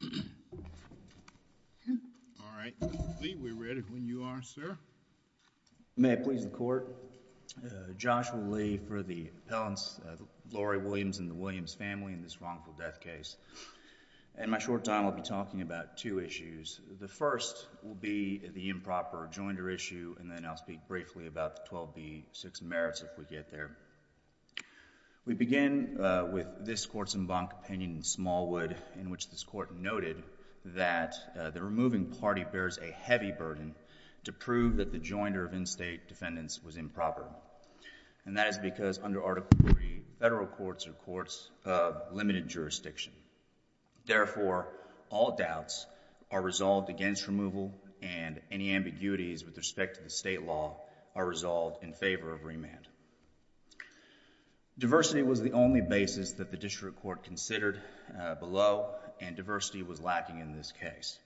All right, Mr. Lee, we're ready when you are, sir. May I please the Court? Joshua Lee for the appellants Lori Williams and the Williams family in this wrongful death case. In my short time, I'll be talking about two issues. The first will be the improper jointer issue, and then I'll speak briefly about the 12B six merits if we get there. We begin with this Courts and Bank opinion in Smallwood, in which this Court noted that the removing party bears a heavy burden to prove that the jointer of in-state defendants was improper. And that is because under Article III, federal courts are courts of limited jurisdiction. Therefore, all doubts are resolved against removal, and any ambiguities with respect to the state law are resolved in favor of remand. Diversity was the only basis that the district court considered below, and diversity was lacking in this case.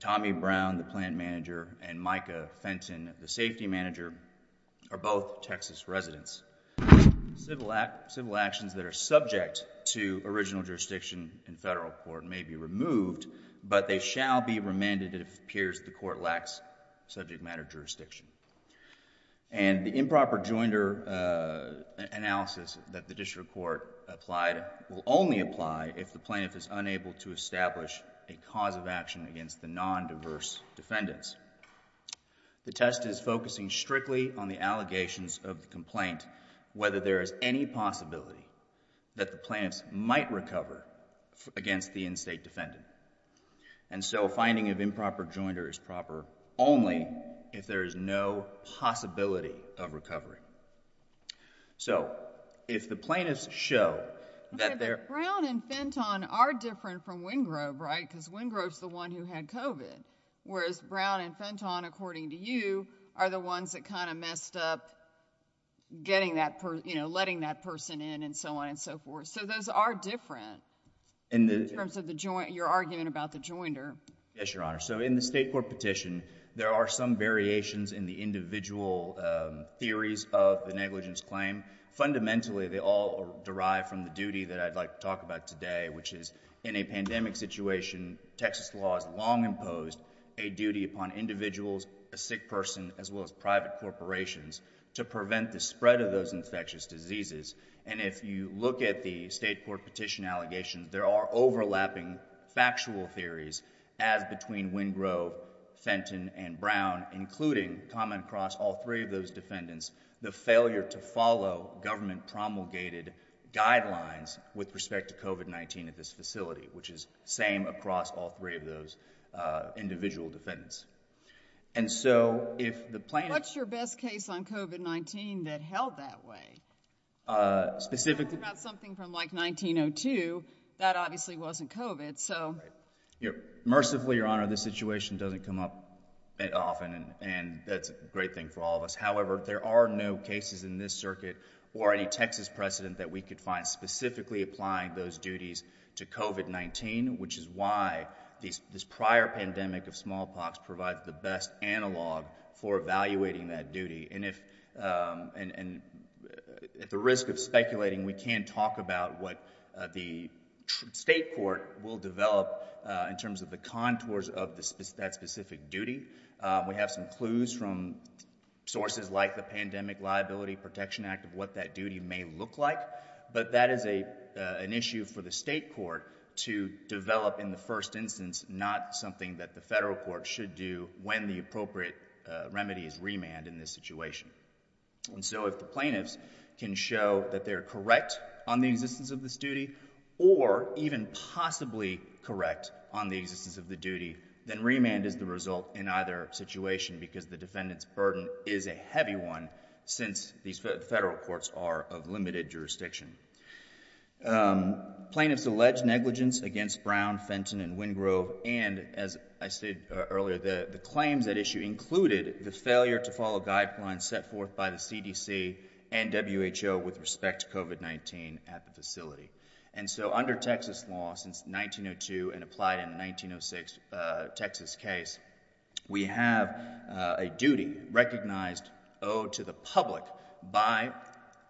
Tommy Brown, the plan manager, and Micah Fenton, the safety manager, are both Texas residents. Civil actions that are subject to original jurisdiction in federal court may be removed, but they shall be remanded if it appears the court lacks subject matter jurisdiction. And the improper jointer analysis that the district court applied will only apply if the plaintiff is unable to establish a cause of action against the non-diverse defendants. The test is focusing strictly on the allegations of the complaint, whether there is any possibility that the plaintiffs might recover against the in-state defendant. And so a finding of improper jointer is proper only if there is no possibility of recovery. So if the plaintiffs show that they're— Okay, but Brown and Fenton are different from Wingrove, right, because Wingrove's the one who had COVID, whereas Brown and Fenton, according to you, are the ones that kind of messed up getting that person, you know, letting that person in and so on and so forth. So those are different in terms of your argument about the jointer. Yes, Your Honor. So in the state court petition, there are some variations in the individual theories of the negligence claim. Fundamentally, they all derive from the duty that I'd like to talk about today, which is in a pandemic situation, Texas law has long imposed a duty upon individuals, a sick person, as well as private corporations, to prevent the spread of those infectious diseases. And if you look at the state court petition allegations, there are overlapping factual theories as between Wingrove, Fenton, and Brown, including common across all three of those defendants, the failure to follow government promulgated guidelines with respect to COVID-19 at this facility, which is same across all three of those individual defendants. And so if the plaintiff... What's your best case on COVID-19 that held that way? Specifically... Something from like 1902, that obviously wasn't COVID, so... Mercifully, Your Honor, this situation doesn't come up often, and that's a great thing for all of us. However, there are no cases in this circuit or any Texas precedent that we could find specifically applying those duties to COVID-19, which is why this prior pandemic of smallpox provides the best analog for evaluating that duty. And at the risk of speculating, we can talk about what the state court will develop in terms of the contours of that specific duty. We have some clues from sources like the Pandemic Liability Protection Act of what that duty may look like, but that is an issue for the state court to develop in the first instance, not something that the federal court should do when the appropriate remedy is remand in this situation. And so if the plaintiffs can show that they're correct on the existence of this duty or even possibly correct on the existence of the duty, then remand is the result in either situation because the defendant's burden is a heavy one since these federal courts are of limited jurisdiction. Um, plaintiffs allege negligence against Brown, Fenton, and Wingrove. And as I said earlier, the claims at issue included the failure to follow guidelines set forth by the CDC and WHO with respect to COVID-19 at the facility. And so under Texas law since 1902 and applied in 1906 Texas case, we have a duty recognized owed to the public by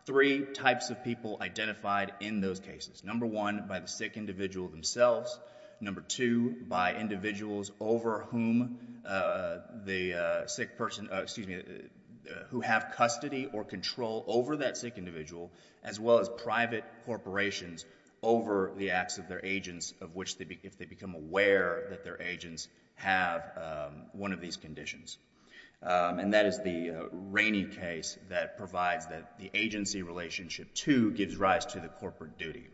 three types of people identified in those cases. Number one, by the sick individual themselves. Number two, by individuals over whom the sick person, excuse me, who have custody or control over that sick individual as well as private corporations over the acts of their agents of which if they become aware that their agents have one of these conditions. And that is the Rainey case that provides that the agency relationship two gives rise to the corporate duty.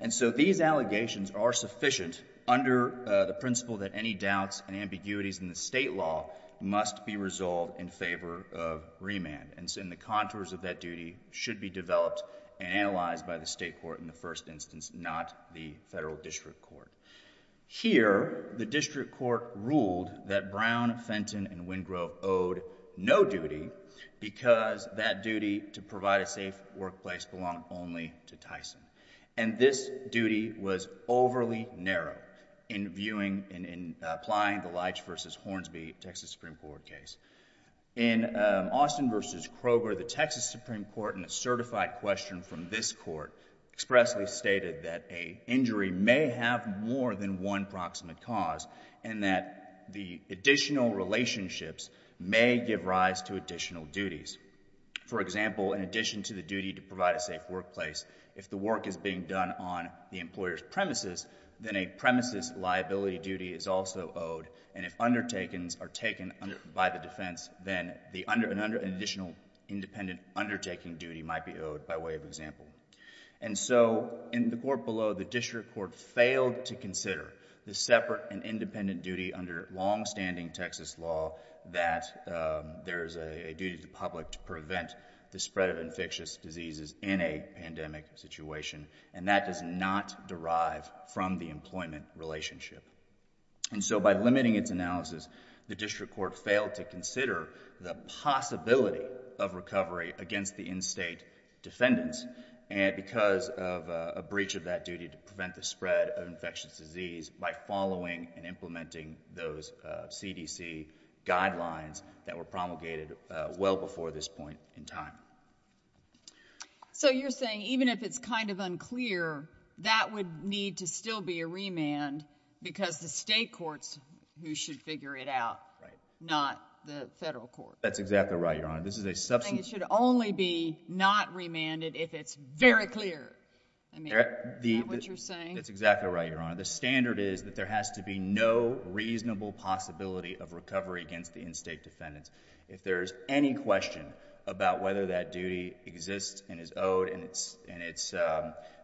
And so these allegations are sufficient under the principle that any doubts and ambiguities in the state law must be resolved in favor of remand. And so in the contours of that duty should be developed and analyzed by the state court in the first instance, not the federal district court. Here, the district court ruled that Brown, Fenton, and Wingrove owed no duty because that duty to provide a safe workplace belonged only to Tyson. And this duty was overly narrow in viewing and in applying the Leitch versus Hornsby Texas Supreme Court case. In Austin versus Kroger, the Texas Supreme Court in a certified question from this court expressly stated that a injury may have more than one proximate cause and that the additional relationships may give rise to additional duties. For example, in addition to the duty to provide a safe workplace, if the work is being done on the employer's premises, then a premises liability duty is also owed. And if undertakings are taken by the defense, then an additional independent undertaking duty might be owed by way of example. And so in the court below, the district court failed to consider the separate and independent duty under longstanding Texas law that there is a duty to the public to prevent the spread of infectious diseases in a pandemic situation. And that does not derive from the employment relationship. And so by limiting its analysis, the district court failed to consider the possibility of recovery against the in-state defendants. And because of a breach of that duty to prevent the spread of infectious disease by following and implementing those CDC guidelines that were promulgated well before this point in time. So you're saying even if it's kind of unclear, that would need to still be a remand because the state courts who should figure it out, not the federal court. That's exactly right, Your Honor. I think it should only be not remanded if it's very clear. I mean, is that what you're saying? That's exactly right, Your Honor. The standard is that there has to be no reasonable possibility of recovery against the in-state defendants. If there's any question about whether that duty exists and is owed and it's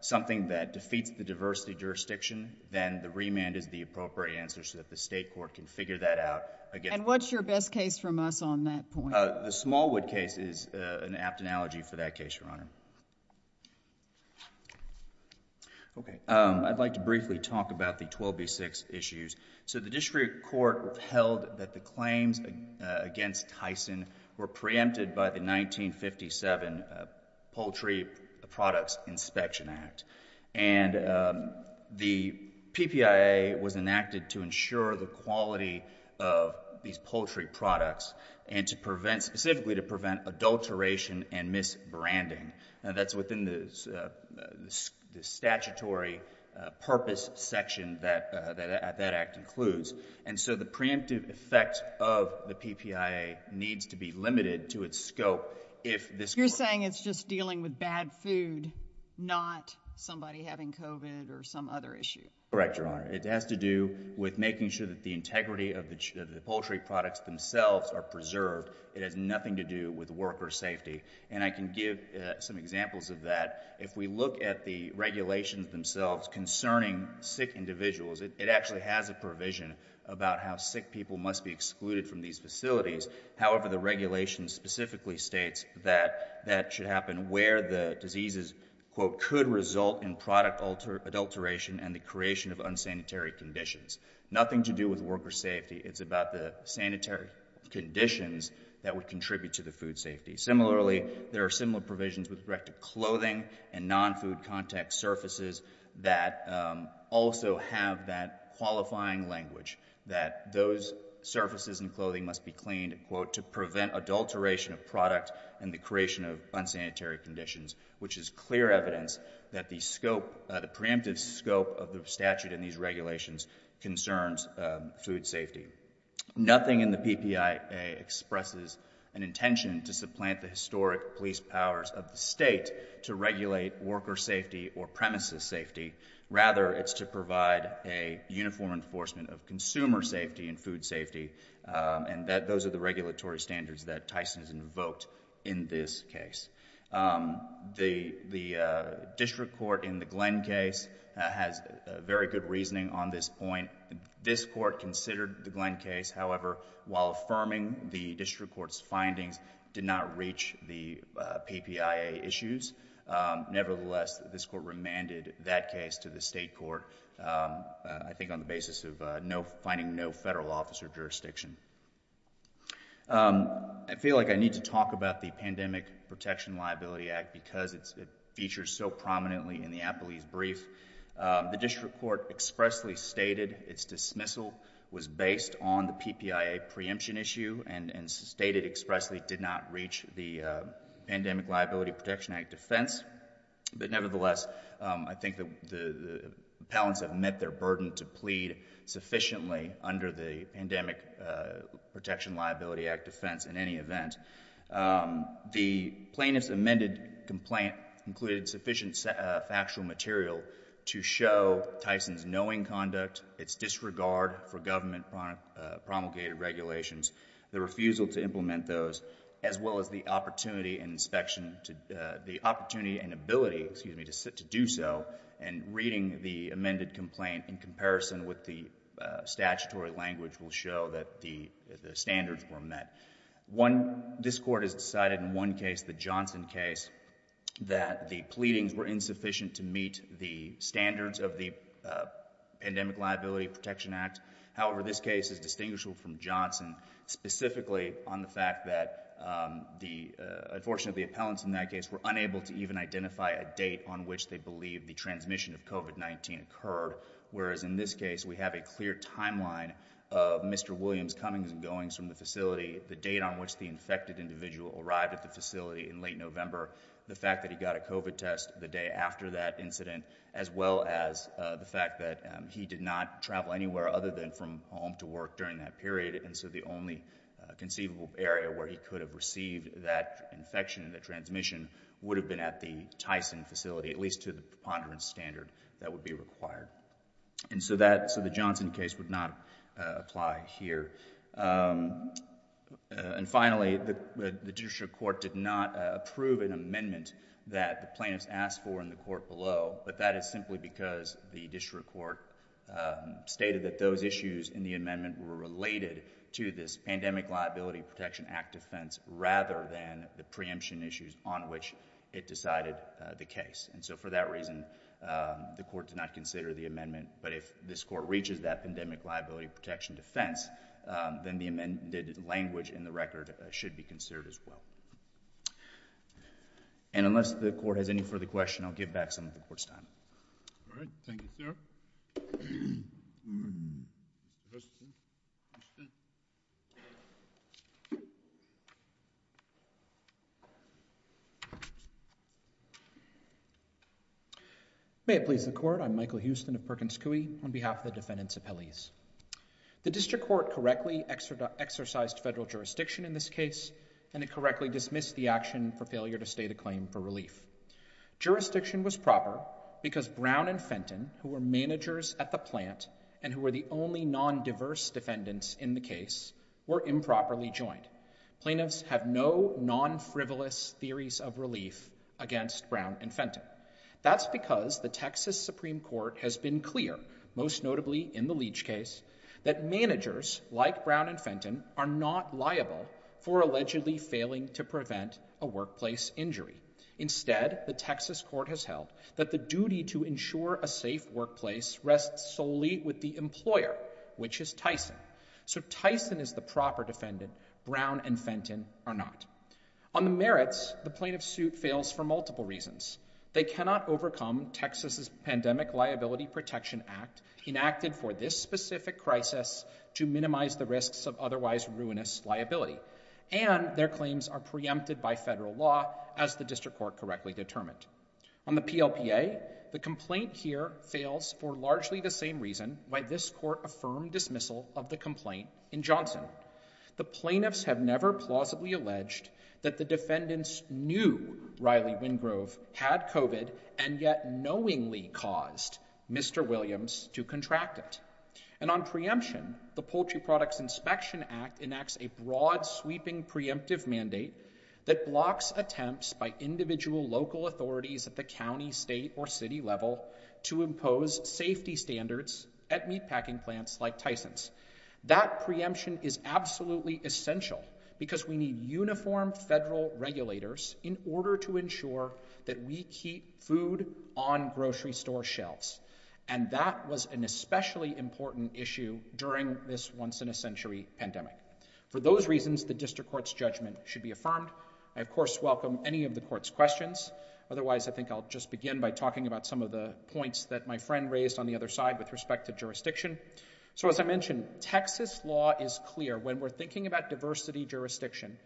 something that defeats the diversity jurisdiction, then the remand is the appropriate answer so that the state court can figure that out. And what's your best case from us on that point? The Smallwood case is an apt analogy for that case, Your Honor. OK. I'd like to briefly talk about the 12B6 issues. So the district court held that the claims against Tyson were preempted by the 1957 Poultry Products Inspection Act. And the PPIA was enacted to ensure the quality of these poultry products and specifically to prevent adulteration and misbranding. That's within the statutory purpose section that that act includes. And so the preemptive effect of the PPIA needs to be limited to its scope if this court— You're saying it's just dealing with bad food, not somebody having COVID or some other issue? Correct, Your Honor. It has to do with making sure that the integrity of the poultry products themselves are preserved. It has nothing to do with worker safety. And I can give some examples of that. If we look at the regulations themselves concerning sick individuals, it actually has a provision about how sick people must be excluded from these facilities. However, the regulation specifically states that that should happen where the diseases, quote, could result in product adulteration and the creation of unsanitary conditions. Nothing to do with worker safety. It's about the sanitary conditions that would contribute to the food safety. Similarly, there are similar provisions with respect to clothing and non-food contact surfaces that also have that qualifying language that those surfaces and clothing must be cleaned, quote, to prevent adulteration of product and the creation of unsanitary conditions, which is clear evidence that the scope, the preemptive scope of the statute in these regulations concerns food safety. Nothing in the PPIA expresses an intention to supplant the historic police powers of the state to regulate worker safety or premises safety. Rather, it's to provide a uniform enforcement of consumer safety and food safety. And those are the regulatory standards that Tyson has invoked in this case. The district court in the Glenn case has very good reasoning on this point. This court considered the Glenn case. However, while affirming the district court's findings did not reach the PPIA issues. Nevertheless, this court remanded that case to the state court, I think, on the basis of finding no federal officer jurisdiction. Um, I feel like I need to talk about the Pandemic Protection Liability Act because it's featured so prominently in the Appley's brief. The district court expressly stated its dismissal was based on the PPIA preemption issue and stated expressly did not reach the Pandemic Liability Protection Act defense. But nevertheless, I think that the appellants have met their burden to plead sufficiently under the Pandemic Protection Liability Act defense in any event. The plaintiff's amended complaint included sufficient factual material to show Tyson's knowing conduct, its disregard for government promulgated regulations, the refusal to implement those, as well as the opportunity and inspection to, the opportunity and ability, excuse me, to do so. And reading the amended complaint in comparison with the statutory language will show that the standards were met. One, this court has decided in one case, the Johnson case, that the pleadings were insufficient to meet the standards of the Pandemic Liability Protection Act. However, this case is distinguishable from Johnson specifically on the fact that the, unfortunately, appellants in that case were unable to even identify a date on which they the transmission of COVID-19 occurred. Whereas in this case, we have a clear timeline of Mr. Williams' comings and goings from the facility, the date on which the infected individual arrived at the facility in late November, the fact that he got a COVID test the day after that incident, as well as the fact that he did not travel anywhere other than from home to work during that period. And so the only conceivable area where he could have received that infection, that transmission, would have been at the Tyson facility, at least to the preponderance standard that would be required. And so the Johnson case would not apply here. And finally, the district court did not approve an amendment that the plaintiffs asked for in the court below, but that is simply because the district court stated that those issues in the amendment were related to this Pandemic Liability Protection Act defense rather than the preemption issues on which it decided the case. And so for that reason, the court did not consider the amendment. But if this court reaches that Pandemic Liability Protection defense, then the amended language in the record should be considered as well. And unless the court has any further questions, I'll give back some of the court's time. All right. Thank you, sir. May it please the Court. I'm Michael Houston of Perkins Coie on behalf of the defendants' appellees. The district court correctly exercised federal jurisdiction in this case, and it correctly dismissed the action for failure to state a claim for relief. Jurisdiction was proper because Brown and Fenton, who were managers at the plant and who were the only non-diverse defendants in the case, were improperly joined. Plaintiffs have no non-frivolous theories of relief against Brown and Fenton. That's because the Texas Supreme Court has been clear, most notably in the Leach case, that managers like Brown and Fenton are not liable for allegedly failing to prevent a workplace injury. Instead, the Texas court has held that the duty to ensure a safe workplace rests solely with the employer, which is Tyson. So Tyson is the proper defendant. Brown and Fenton are not. On the merits, the plaintiff's suit fails for multiple reasons. They cannot overcome Texas's Pandemic Liability Protection Act, enacted for this specific crisis to minimize the risks of otherwise ruinous liability. And their claims are preempted by federal law, as the district court correctly determined. On the PLPA, the complaint here fails for largely the same reason why this court affirmed dismissal of the complaint in Johnson. The plaintiffs have never plausibly alleged that the defendants knew Riley Wingrove had COVID and yet knowingly caused Mr. Williams to contract it. And on preemption, the Poultry Products Inspection Act enacts a broad-sweeping preemptive mandate that blocks attempts by individual local authorities at the county, state, or city level to impose safety standards at meatpacking plants like Tyson's. That preemption is absolutely essential because we need uniform federal regulators in order to ensure that we keep food on grocery store shelves. And that was an especially important issue during this once-in-a-century pandemic. For those reasons, the district court's judgment should be affirmed. I, of course, welcome any of the court's questions. Otherwise, I think I'll just begin by talking about some of the points that my friend raised on the other side with respect to jurisdiction. So as I mentioned, Texas law is clear. When we're thinking about diversity jurisdiction,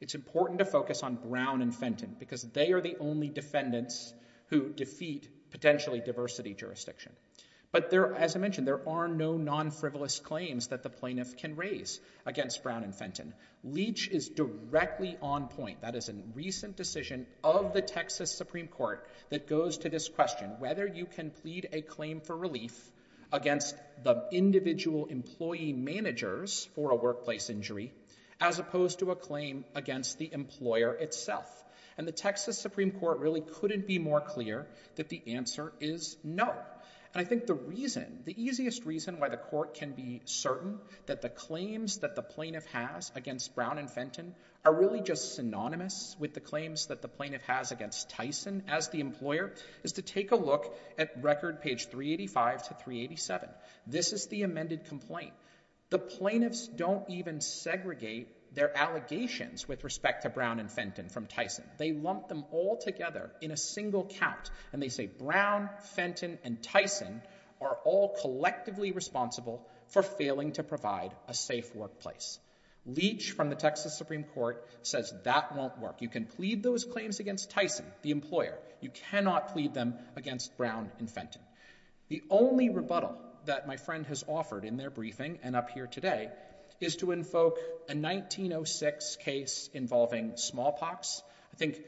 it's important to focus on Brown and Fenton because they are the only defendants who defeat potentially diversity jurisdiction. But as I mentioned, there are no non-frivolous claims that the plaintiff can raise against Brown and Fenton. Leach is directly on point. That is a recent decision of the Texas Supreme Court that goes to this question, whether you can plead a claim for relief against the individual employee managers for a workplace injury as opposed to a claim against the employer itself. And the Texas Supreme Court really couldn't be more clear that the answer is no. And I think the reason, the easiest reason why the court can be certain that the claims that the plaintiff has against Brown and Fenton are really just synonymous with the claims that the plaintiff has against Tyson as the employer is to take a look at record page 385 to 387. This is the amended complaint. The plaintiffs don't even segregate their allegations with respect to Brown and Fenton from Tyson. They lump them all together in a single count. And they say Brown, Fenton, and Tyson are all collectively responsible for failing to provide a safe workplace. Leach from the Texas Supreme Court says that won't work. You can plead those claims against Tyson, the employer. You cannot plead them against Brown and Fenton. The only rebuttal that my friend has offered in their briefing and up here today is to a 1906 case involving smallpox. I think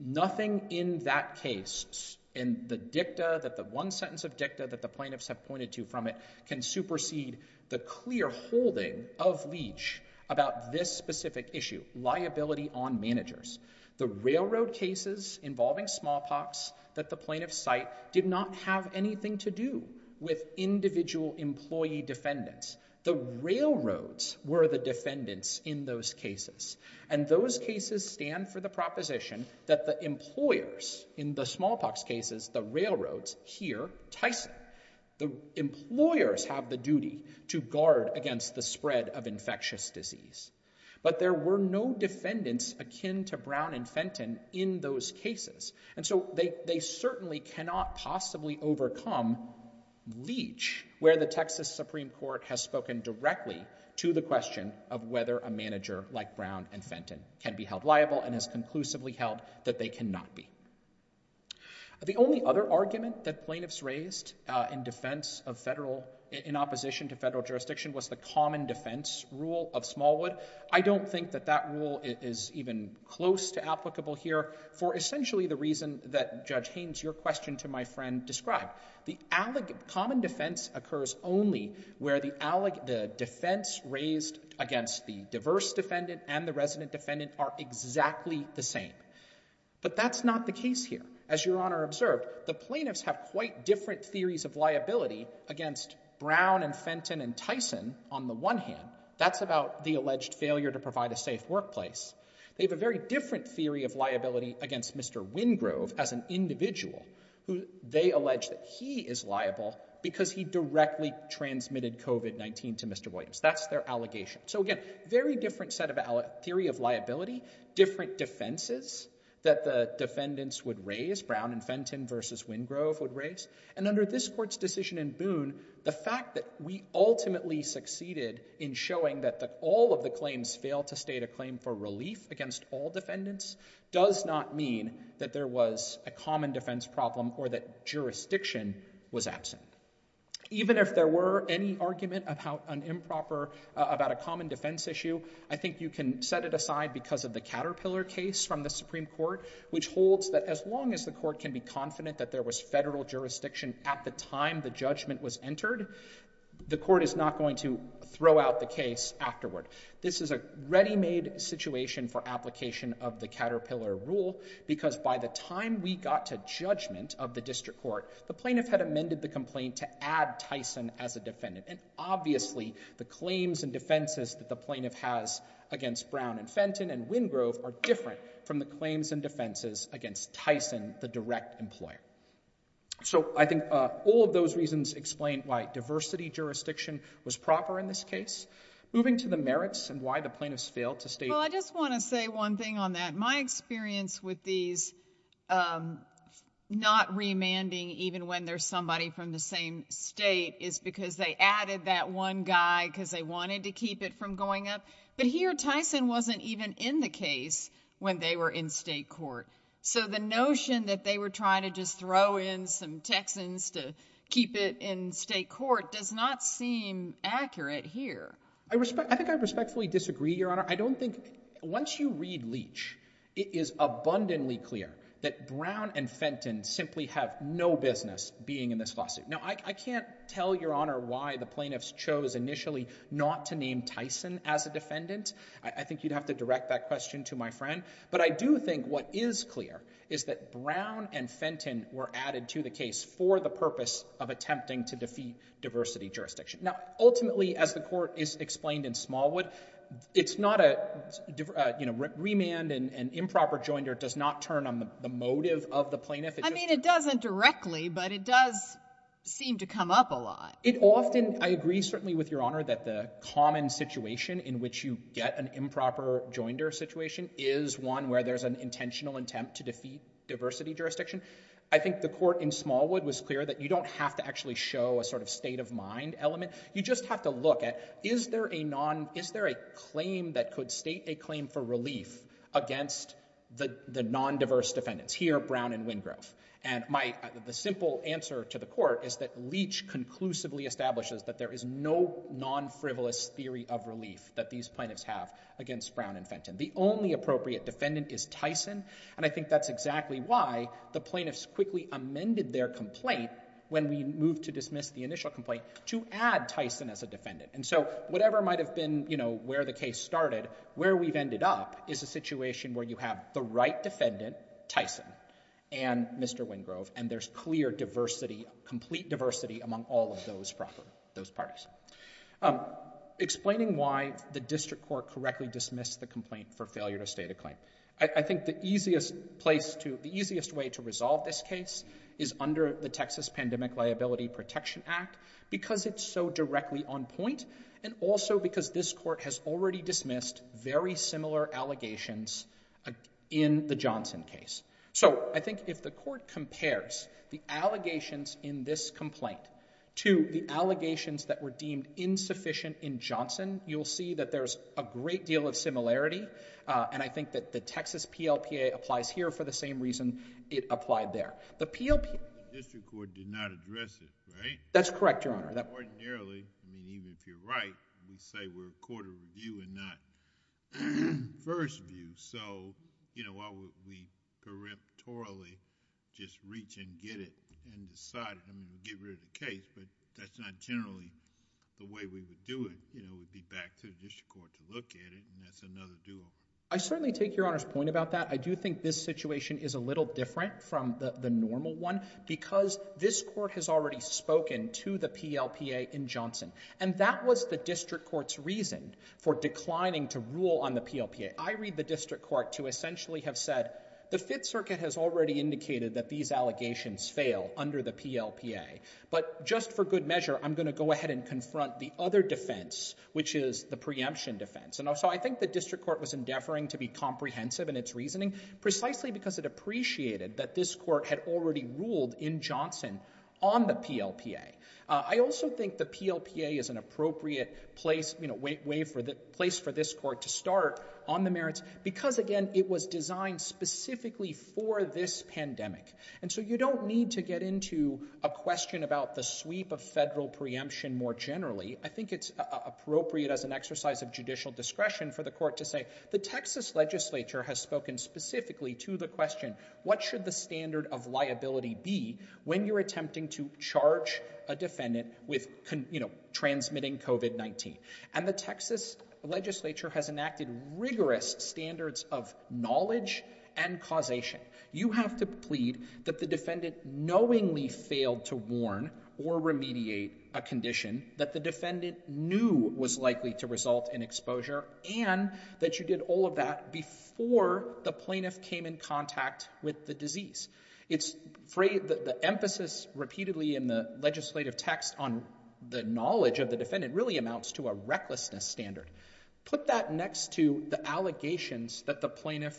nothing in that case, in the dicta, that the one sentence of dicta that the plaintiffs have pointed to from it can supersede the clear holding of Leach about this specific issue, liability on managers. The railroad cases involving smallpox that the plaintiffs cite did not have anything to do with individual employee defendants. The railroads were the defendants in those cases. And those cases stand for the proposition that the employers, in the smallpox cases, the railroads, here, Tyson, the employers have the duty to guard against the spread of infectious disease. But there were no defendants akin to Brown and Fenton in those cases. And so they certainly cannot possibly overcome Leach, where the Texas Supreme Court has spoken directly to the question of whether a manager like Brown and Fenton can be held liable and has conclusively held that they cannot be. The only other argument that plaintiffs raised in defense of federal, in opposition to federal jurisdiction was the common defense rule of Smallwood. I don't think that that rule is even close to applicable here for essentially the reason that Judge Haynes, your question to my friend, described. The common defense occurs only where the defense raised against the diverse defendant and the resident defendant are exactly the same. But that's not the case here. As Your Honor observed, the plaintiffs have quite different theories of liability against Brown and Fenton and Tyson on the one hand. That's about the alleged failure to provide a safe workplace. They have a very different theory of liability against Mr. Wingrove as an individual who they allege that he is liable because he directly transmitted COVID-19 to Mr. Williams. That's their allegation. So again, very different set of theory of liability, different defenses that the defendants would raise, Brown and Fenton versus Wingrove would raise. And under this court's decision in Boone, the fact that we ultimately succeeded in showing that all of the claims fail to state a claim for relief against all defendants does not mean that there was a common defense problem or that jurisdiction was absent. Even if there were any argument about an improper, about a common defense issue, I think you can set it aside because of the Caterpillar case from the Supreme Court, which holds that as long as the court can be confident that there was federal jurisdiction at the time the judgment was entered, the court is not going to throw out the case afterward. This is a ready-made situation for application of the Caterpillar rule because by the time we got to judgment of the district court, the plaintiff had amended the complaint to add Tyson as a defendant. And obviously, the claims and defenses that the plaintiff has against Brown and Fenton and Wingrove are different from the claims and defenses against Tyson, the direct employer. So I think all of those reasons explain why diversity jurisdiction was proper in this case. Moving to the merits and why the plaintiffs failed to state— Well, I just want to say one thing on that. My experience with these not remanding even when there's somebody from the same state is because they added that one guy because they wanted to keep it from going up. But here, Tyson wasn't even in the case when they were in state court. So the notion that they were trying to just throw in some Texans to keep it in state court does not seem accurate here. I respect—I think I respectfully disagree, Your Honor. I don't think—once you read Leach, it is abundantly clear that Brown and Fenton simply have no business being in this lawsuit. Now, I can't tell, Your Honor, why the plaintiffs chose initially not to name Tyson as a defendant. I think you'd have to direct that question to my friend. But I do think what is clear is that Brown and Fenton were added to the case for the purpose of attempting to defeat diversity jurisdiction. Now, ultimately, as the Court has explained in Smallwood, it's not a—remand, an improper joinder, does not turn on the motive of the plaintiff. I mean, it doesn't directly, but it does seem to come up a lot. It often—I agree, certainly, with Your Honor, that the common situation in which you get an improper joinder situation is one where there's an intentional attempt to defeat diversity jurisdiction. I think the Court in Smallwood was clear that you don't have to actually show a sort of state-of-mind element. You just have to look at, is there a non—is there a claim that could state a claim for relief against the non-diverse defendants? Here, Brown and Wingrove. And my—the simple answer to the Court is that Leach conclusively establishes that there is no non-frivolous theory of relief that these plaintiffs have against Brown and Fenton. The only appropriate defendant is Tyson. And I think that's exactly why the plaintiffs quickly amended their complaint when we moved to dismiss the initial complaint to add Tyson as a defendant. And so whatever might have been, you know, where the case started, where we've ended up is a situation where you have the right defendant, Tyson, and Mr. Wingrove, and there's clear diversity, complete diversity among all of those parties. Explaining why the district court correctly dismissed the complaint for failure to claim. I think the easiest place to—the easiest way to resolve this case is under the Texas Pandemic Liability Protection Act, because it's so directly on point, and also because this Court has already dismissed very similar allegations in the Johnson case. So I think if the Court compares the allegations in this complaint to the allegations that were deemed insufficient in Johnson, you'll see that there's a great deal of similarity, and I think that the Texas PLPA applies here for the same reason it applied there. The PLPA— The district court did not address it, right? That's correct, Your Honor. Ordinarily, I mean, even if you're right, we say we're a court of review and not first view. So, you know, why would we correctorally just reach and get it and decide, I mean, get rid of the case, but that's not generally the way we would do it. You know, we'd be back to the district court to look at it, and that's another I certainly take Your Honor's point about that. I do think this situation is a little different from the normal one, because this Court has already spoken to the PLPA in Johnson, and that was the district court's reason for declining to rule on the PLPA. I read the district court to essentially have said, the Fifth Circuit has already indicated that these allegations fail under the PLPA, but just for good measure, I'm going to go ahead and confront the other defense, which is the preemption defense. So I think the district court was endeavoring to be comprehensive in its reasoning, precisely because it appreciated that this Court had already ruled in Johnson on the PLPA. I also think the PLPA is an appropriate place for this Court to start on the merits, because again, it was designed specifically for this pandemic. And so you don't need to get into a question about the sweep of federal preemption more generally. I think it's appropriate as an exercise of judicial discretion for the Court to say, the Texas legislature has spoken specifically to the question, what should the standard of liability be when you're attempting to charge a defendant with transmitting COVID-19? And the Texas legislature has enacted rigorous standards of knowledge and causation. You have to plead that the defendant knowingly failed to warn or remediate a condition, that the defendant knew was likely to result in exposure, and that you did all of that before the plaintiff came in contact with the disease. It's the emphasis repeatedly in the legislative text on the knowledge of the defendant really amounts to a recklessness standard. Put that next to the allegations that the plaintiff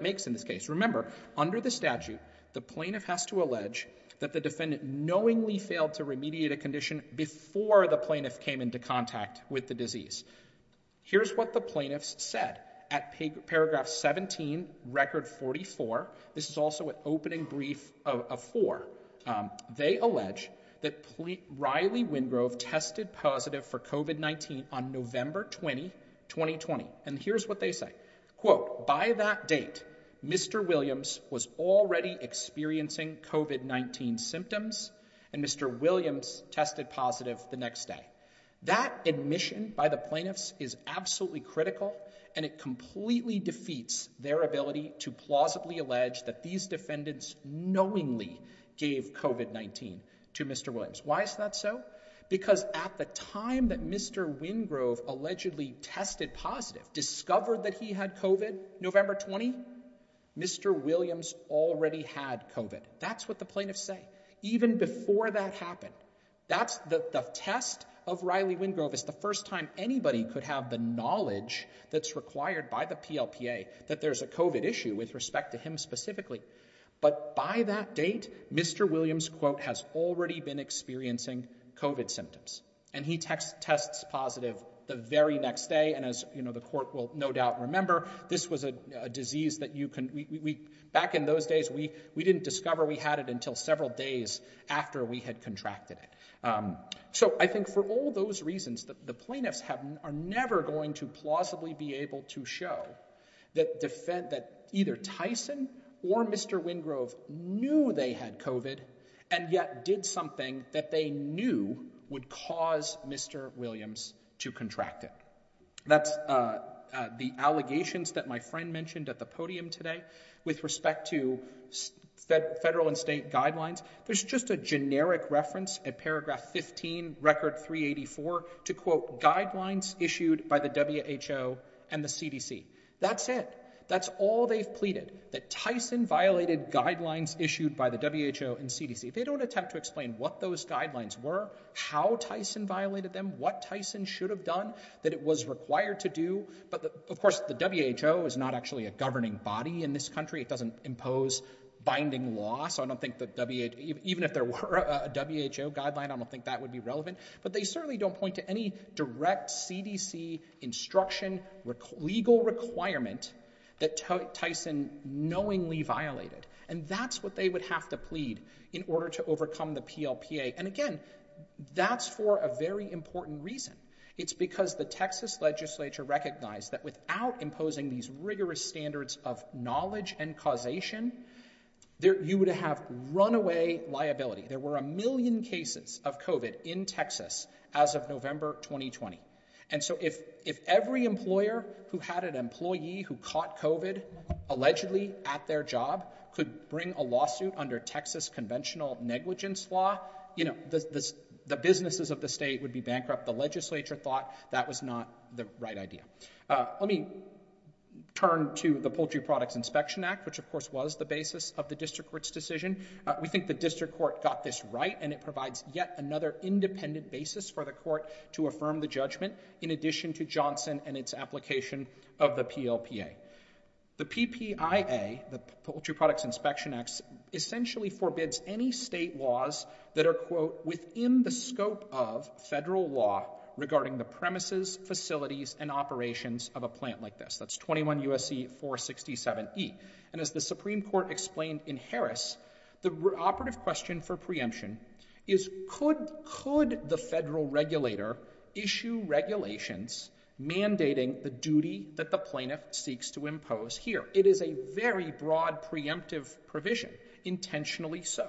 makes in this case. Remember, under the statute, the plaintiff has to allege that the defendant knowingly failed to remediate a condition before the plaintiff came into contact with the disease. Here's what the plaintiffs said at paragraph 17, record 44. This is also an opening brief of four. They allege that Riley Wingrove tested positive for COVID-19 on November 20, 2020. And here's what they say. Quote, by that date, Mr. Williams was already experiencing COVID-19 symptoms, and Mr. Williams tested positive the next day. That admission by the plaintiffs is absolutely critical, and it completely defeats their ability to plausibly allege that these defendants knowingly gave COVID-19 to Mr. Williams. Why is that so? Because at the time that Mr. Wingrove allegedly tested positive, discovered that he had COVID, November 20, Mr. Williams already had COVID. That's what the plaintiffs say. Even before that happened, that's the test of Riley Wingrove. It's the first time anybody could have the knowledge that's required by the PLPA that there's a COVID issue with respect to him specifically. But by that date, Mr. Williams, quote, has already been experiencing COVID symptoms. And he tests positive the very next day. And as the court will no doubt remember, this was a disease that you can—back in those days, we didn't discover we had it until several days after we had contracted it. So I think for all those reasons, the plaintiffs are never going to plausibly be able to show that either Tyson or Mr. Wingrove knew they had COVID and yet did something that they knew would cause Mr. Williams to contract it. That's the allegations that my friend mentioned at the podium today with respect to federal and state guidelines. There's just a generic reference at paragraph 15, record 384, to, quote, guidelines issued by the WHO and the CDC. That's it. That's all they've pleaded, that Tyson violated guidelines issued by the WHO and CDC. They don't attempt to explain what those guidelines were, how Tyson violated them, what Tyson should have done that it was required to do. But of course, the WHO is not actually a governing body in this country. It doesn't impose binding law. So I don't think that—even if there were a WHO guideline, I don't think that would be relevant. But they certainly don't point to any direct CDC instruction legal requirement that Tyson knowingly violated. And that's what they would have to plead in order to overcome the PLPA. And again, that's for a very important reason. It's because the Texas legislature recognized that without imposing these rigorous standards of knowledge and causation, you would have runaway liability. There were a million cases of COVID in Texas as of November 2020. And so if every employer who had an employee who caught COVID allegedly at their job could bring a lawsuit under Texas conventional negligence law, the businesses of the state would be bankrupt. The legislature thought that was not the right idea. Let me turn to the Poultry Products Inspection Act, which of course was the basis of the district court's decision. We think the district court got this right. And it provides yet another independent basis for the court to affirm the judgment in addition to Johnson and its application of the PLPA. The PPIA, the Poultry Products Inspection Act, essentially forbids any state laws that are, quote, within the scope of federal law regarding the premises, facilities, and operations of a plant like this. That's 21 U.S.C. 467E. And as the Supreme Court explained in Harris, the operative question for preemption is could the federal regulator issue regulations mandating the duty that the plaintiff seeks to impose here? It is a very broad preemptive provision. Intentionally so.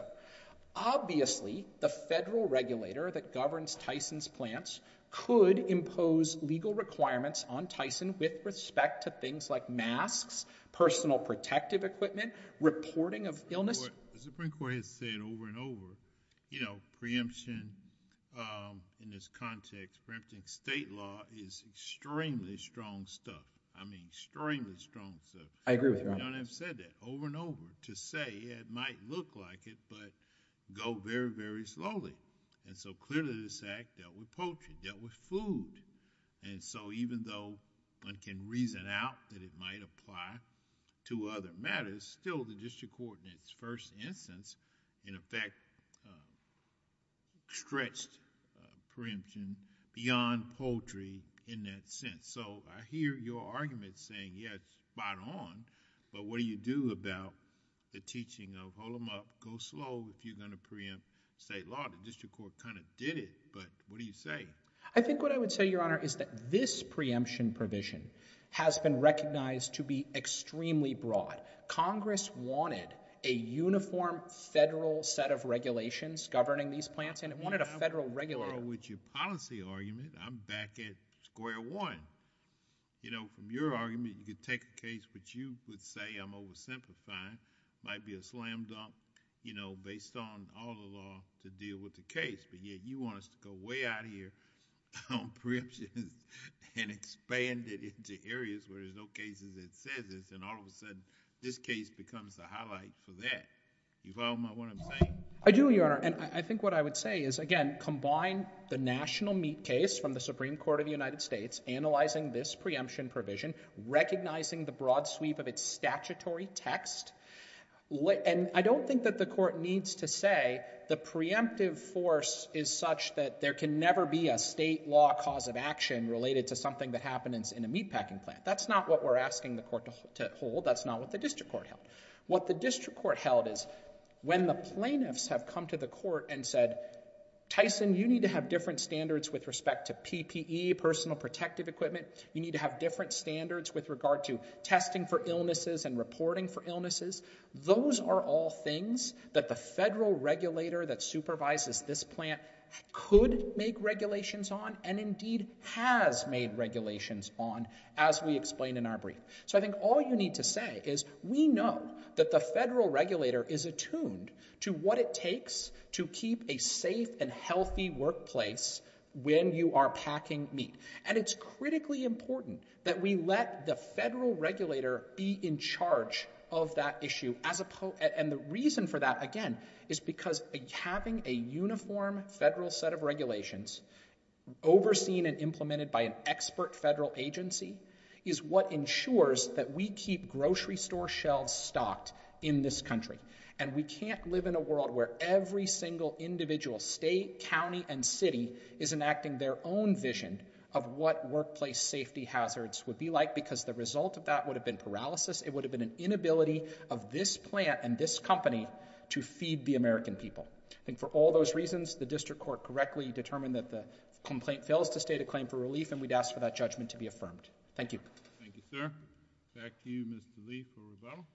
Obviously, the federal regulator that governs Tyson's plants could impose legal requirements on Tyson with respect to things like masks, personal protective equipment, reporting of illness. The Supreme Court has said over and over, you know, preemption in this context, preempting state law is extremely strong stuff. I mean, extremely strong stuff. I agree with you. We don't have said that over and over to say it might look like it, but go very, very slowly. And so, clearly this act dealt with poultry, dealt with food. And so, even though one can reason out that it might apply to other matters, still the District Court, in its first instance, in effect stretched preemption beyond poultry in that sense. So, I hear your argument saying, yeah, it's spot on, but what do you do about the teaching of hold them up, go slow if you're going to preempt state law? The District Court kind of did it, but what do you say? I think what I would say, Your Honor, is that this preemption provision has been recognized to be extremely broad. Congress wanted a uniform federal set of regulations governing these plants, and it wanted a federal regulator. With your policy argument, I'm back at square one. You know, from your argument, you could take a case which you would say I'm oversimplifying, might be a slam dunk, you know, based on all the law to deal with the case, but yet you want us to go way out of here on preemptions and expand it into areas where there's no cases that says this. And all of a sudden, this case becomes the highlight for that. You follow what I'm saying? I do, Your Honor. And I think what I would say is, again, combine the national meat case from the Supreme Court of the United States, analyzing this preemption provision, recognizing the broad sweep of its statutory text. And I don't think that the Court needs to say the preemptive force is such that there can never be a state law cause of action related to something that happens in a meatpacking plant. That's not what we're asking the Court to hold. That's not what the district court held. What the district court held is when the plaintiffs have come to the court and said, Tyson, you need to have different standards with respect to PPE, personal protective equipment. You need to have different standards with regard to testing for illnesses and reporting for illnesses. Those are all things that the federal regulator that supervises this plant could make regulations on and indeed has made regulations on, as we explained in our brief. So I think all you need to say is we know that the federal regulator is attuned to what it takes to keep a safe and healthy workplace when you are packing meat. And it's critically important that we let the federal regulator be in charge of that issue. And the reason for that, again, is because having a uniform federal set of regulations overseen and implemented by an expert federal agency is what ensures that we keep grocery store shelves stocked in this country. And we can't live in a world where every single individual state, county, and city is enacting their own vision of what workplace safety hazards would be like because the result of that would have been paralysis. It would have been an inability of this plant and this company to feed the American people. And for all those reasons, the district court correctly determined that the complaint fails to state a claim for relief, and we'd ask for that judgment to be affirmed. Thank you. Thank you, sir. Back to you, Mr. Lee, for rebuttal.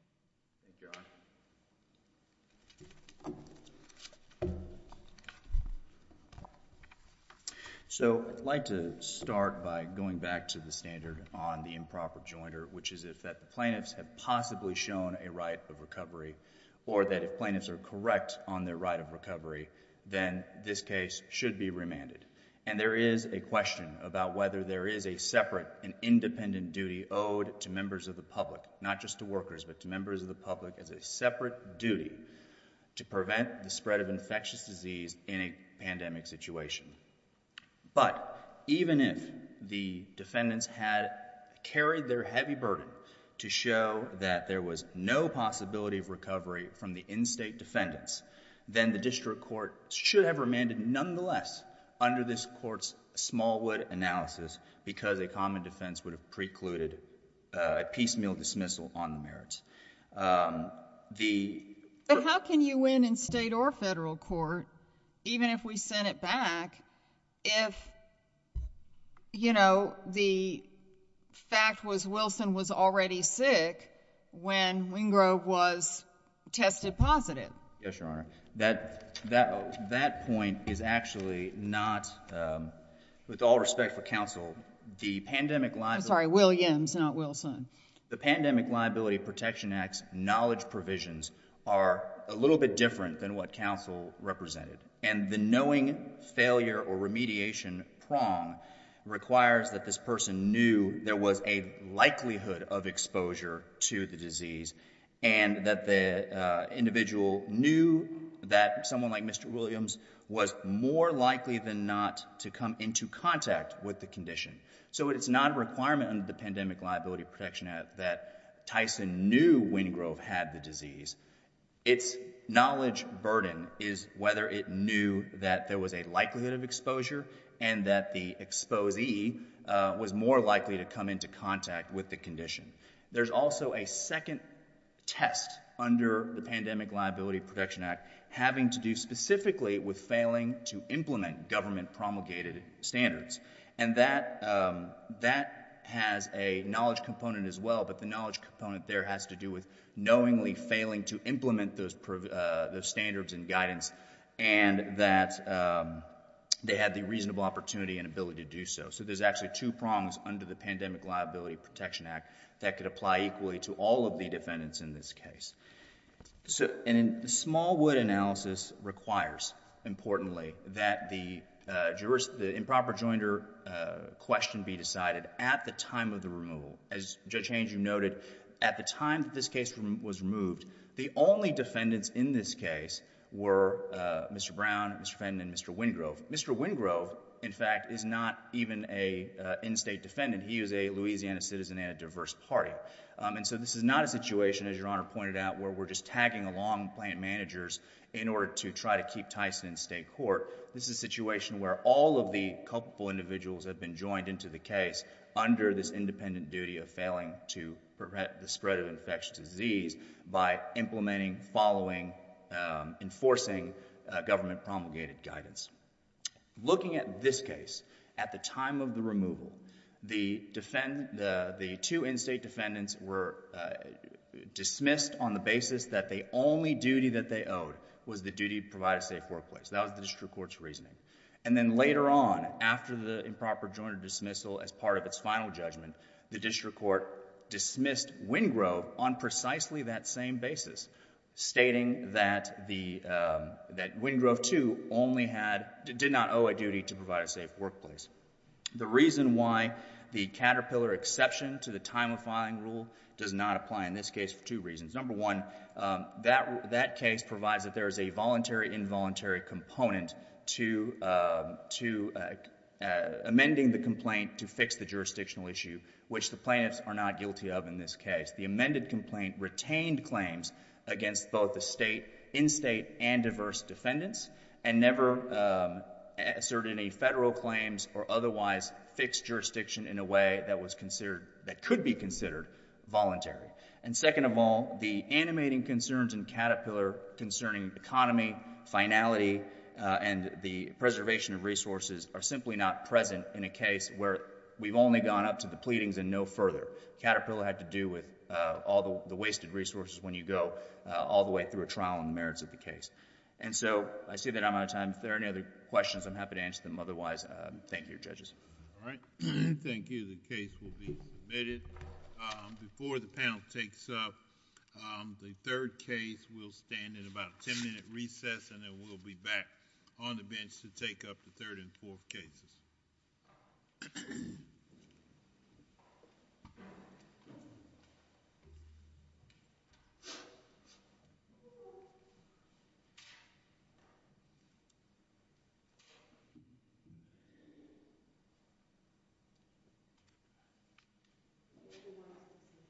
So I'd like to start by going back to the standard on the improper jointer, which is that the plaintiffs have possibly shown a right of recovery, or that if plaintiffs are correct on their right of recovery, then this case should be remanded. And there is a question about whether there is a separate and independent duty owed to members of the public, not just to workers, but to members of the public as a separate duty to prevent the spread of infectious disease in a pandemic situation. But even if the defendants had carried their heavy burden to show that there was no possibility of recovery from the in-state defendants, then the district court should have remanded nonetheless under this court's Smallwood analysis because a common defense would have precluded a piecemeal dismissal on the merits. But how can you win in state or federal court, even if we sent it back, if, you know, the fact was Wilson was already sick when Wingrove was tested positive? Yes, Your Honor. That point is actually not, with all respect for counsel, the pandemic liability— I'm sorry, Williams, not Wilson. The Pandemic Liability Protection Act's knowledge provisions are a little bit different than what counsel represented. And the knowing failure or remediation prong requires that this person knew there was a likelihood of exposure to the disease and that the individual knew that someone like Mr. Williams was more likely than not to come into contact with the condition. So it's not a requirement under the Pandemic Liability Protection Act that Tyson knew Wingrove had the disease. Its knowledge burden is whether it knew that there was a likelihood of exposure and that the exposee was more likely to come into contact with the condition. There's also a second test under the Pandemic Liability Protection Act having to do specifically with failing to implement government promulgated standards. And that has a knowledge component as well, but the knowledge component there has to do with knowingly failing to implement those standards and guidance and that they had the reasonable opportunity and ability to do so. So there's actually two prongs under the Pandemic Liability Protection Act that could apply equally to all of the defendants in this case. So a smallwood analysis requires, importantly, that the improper joinder question be decided at the time of the removal. As Judge Haynes, you noted, at the time that this case was removed, the only defendants in this case were Mr. Brown, Mr. Fenn, and Mr. Wingrove. Mr. Wingrove, in fact, is not even an in-state defendant. He is a Louisiana citizen and a diverse party. And so this is not a situation, as Your Honor pointed out, where we're just tagging along plant managers in order to try to keep Tyson in state court. This is a situation where all of the culpable individuals have been joined into the case under this independent duty of failing to prevent the spread of infectious disease by implementing, following, enforcing government promulgated guidance. Looking at this case, at the time of the removal, the two in-state defendants were dismissed on the basis that the only duty that they owed was the duty to provide a safe workplace. That was the district court's reasoning. And then later on, after the improper joinder dismissal as part of its final judgment, the district court dismissed Wingrove on precisely that same basis, stating that Wingrove, too, did not owe a duty to provide a safe workplace. The reason why the Caterpillar exception to the time of filing rule does not apply in this case for two reasons. Number one, that case provides that there is a voluntary, involuntary component to amending the complaint to fix the jurisdictional issue, which the plaintiffs are not guilty of in this case. The amended complaint retained claims against both the state, in-state, and diverse defendants, and never asserted any federal claims or otherwise fixed jurisdiction in a way that could be considered voluntary. And second of all, the animating concerns in Caterpillar concerning economy, finality, and the preservation of resources are simply not present in a case where we've only gone up to the pleadings and no further. Caterpillar had to do with all the wasted resources when you go all the way through a trial on the merits of the case. And so, I see that I'm out of time. If there are any other questions, I'm happy to answer them otherwise. Thank you, judges. All right. Thank you. The case will be submitted. Before the panel takes up the third case, we'll stand in about a ten-minute recess and then we'll be back on the bench to take up the third and fourth cases.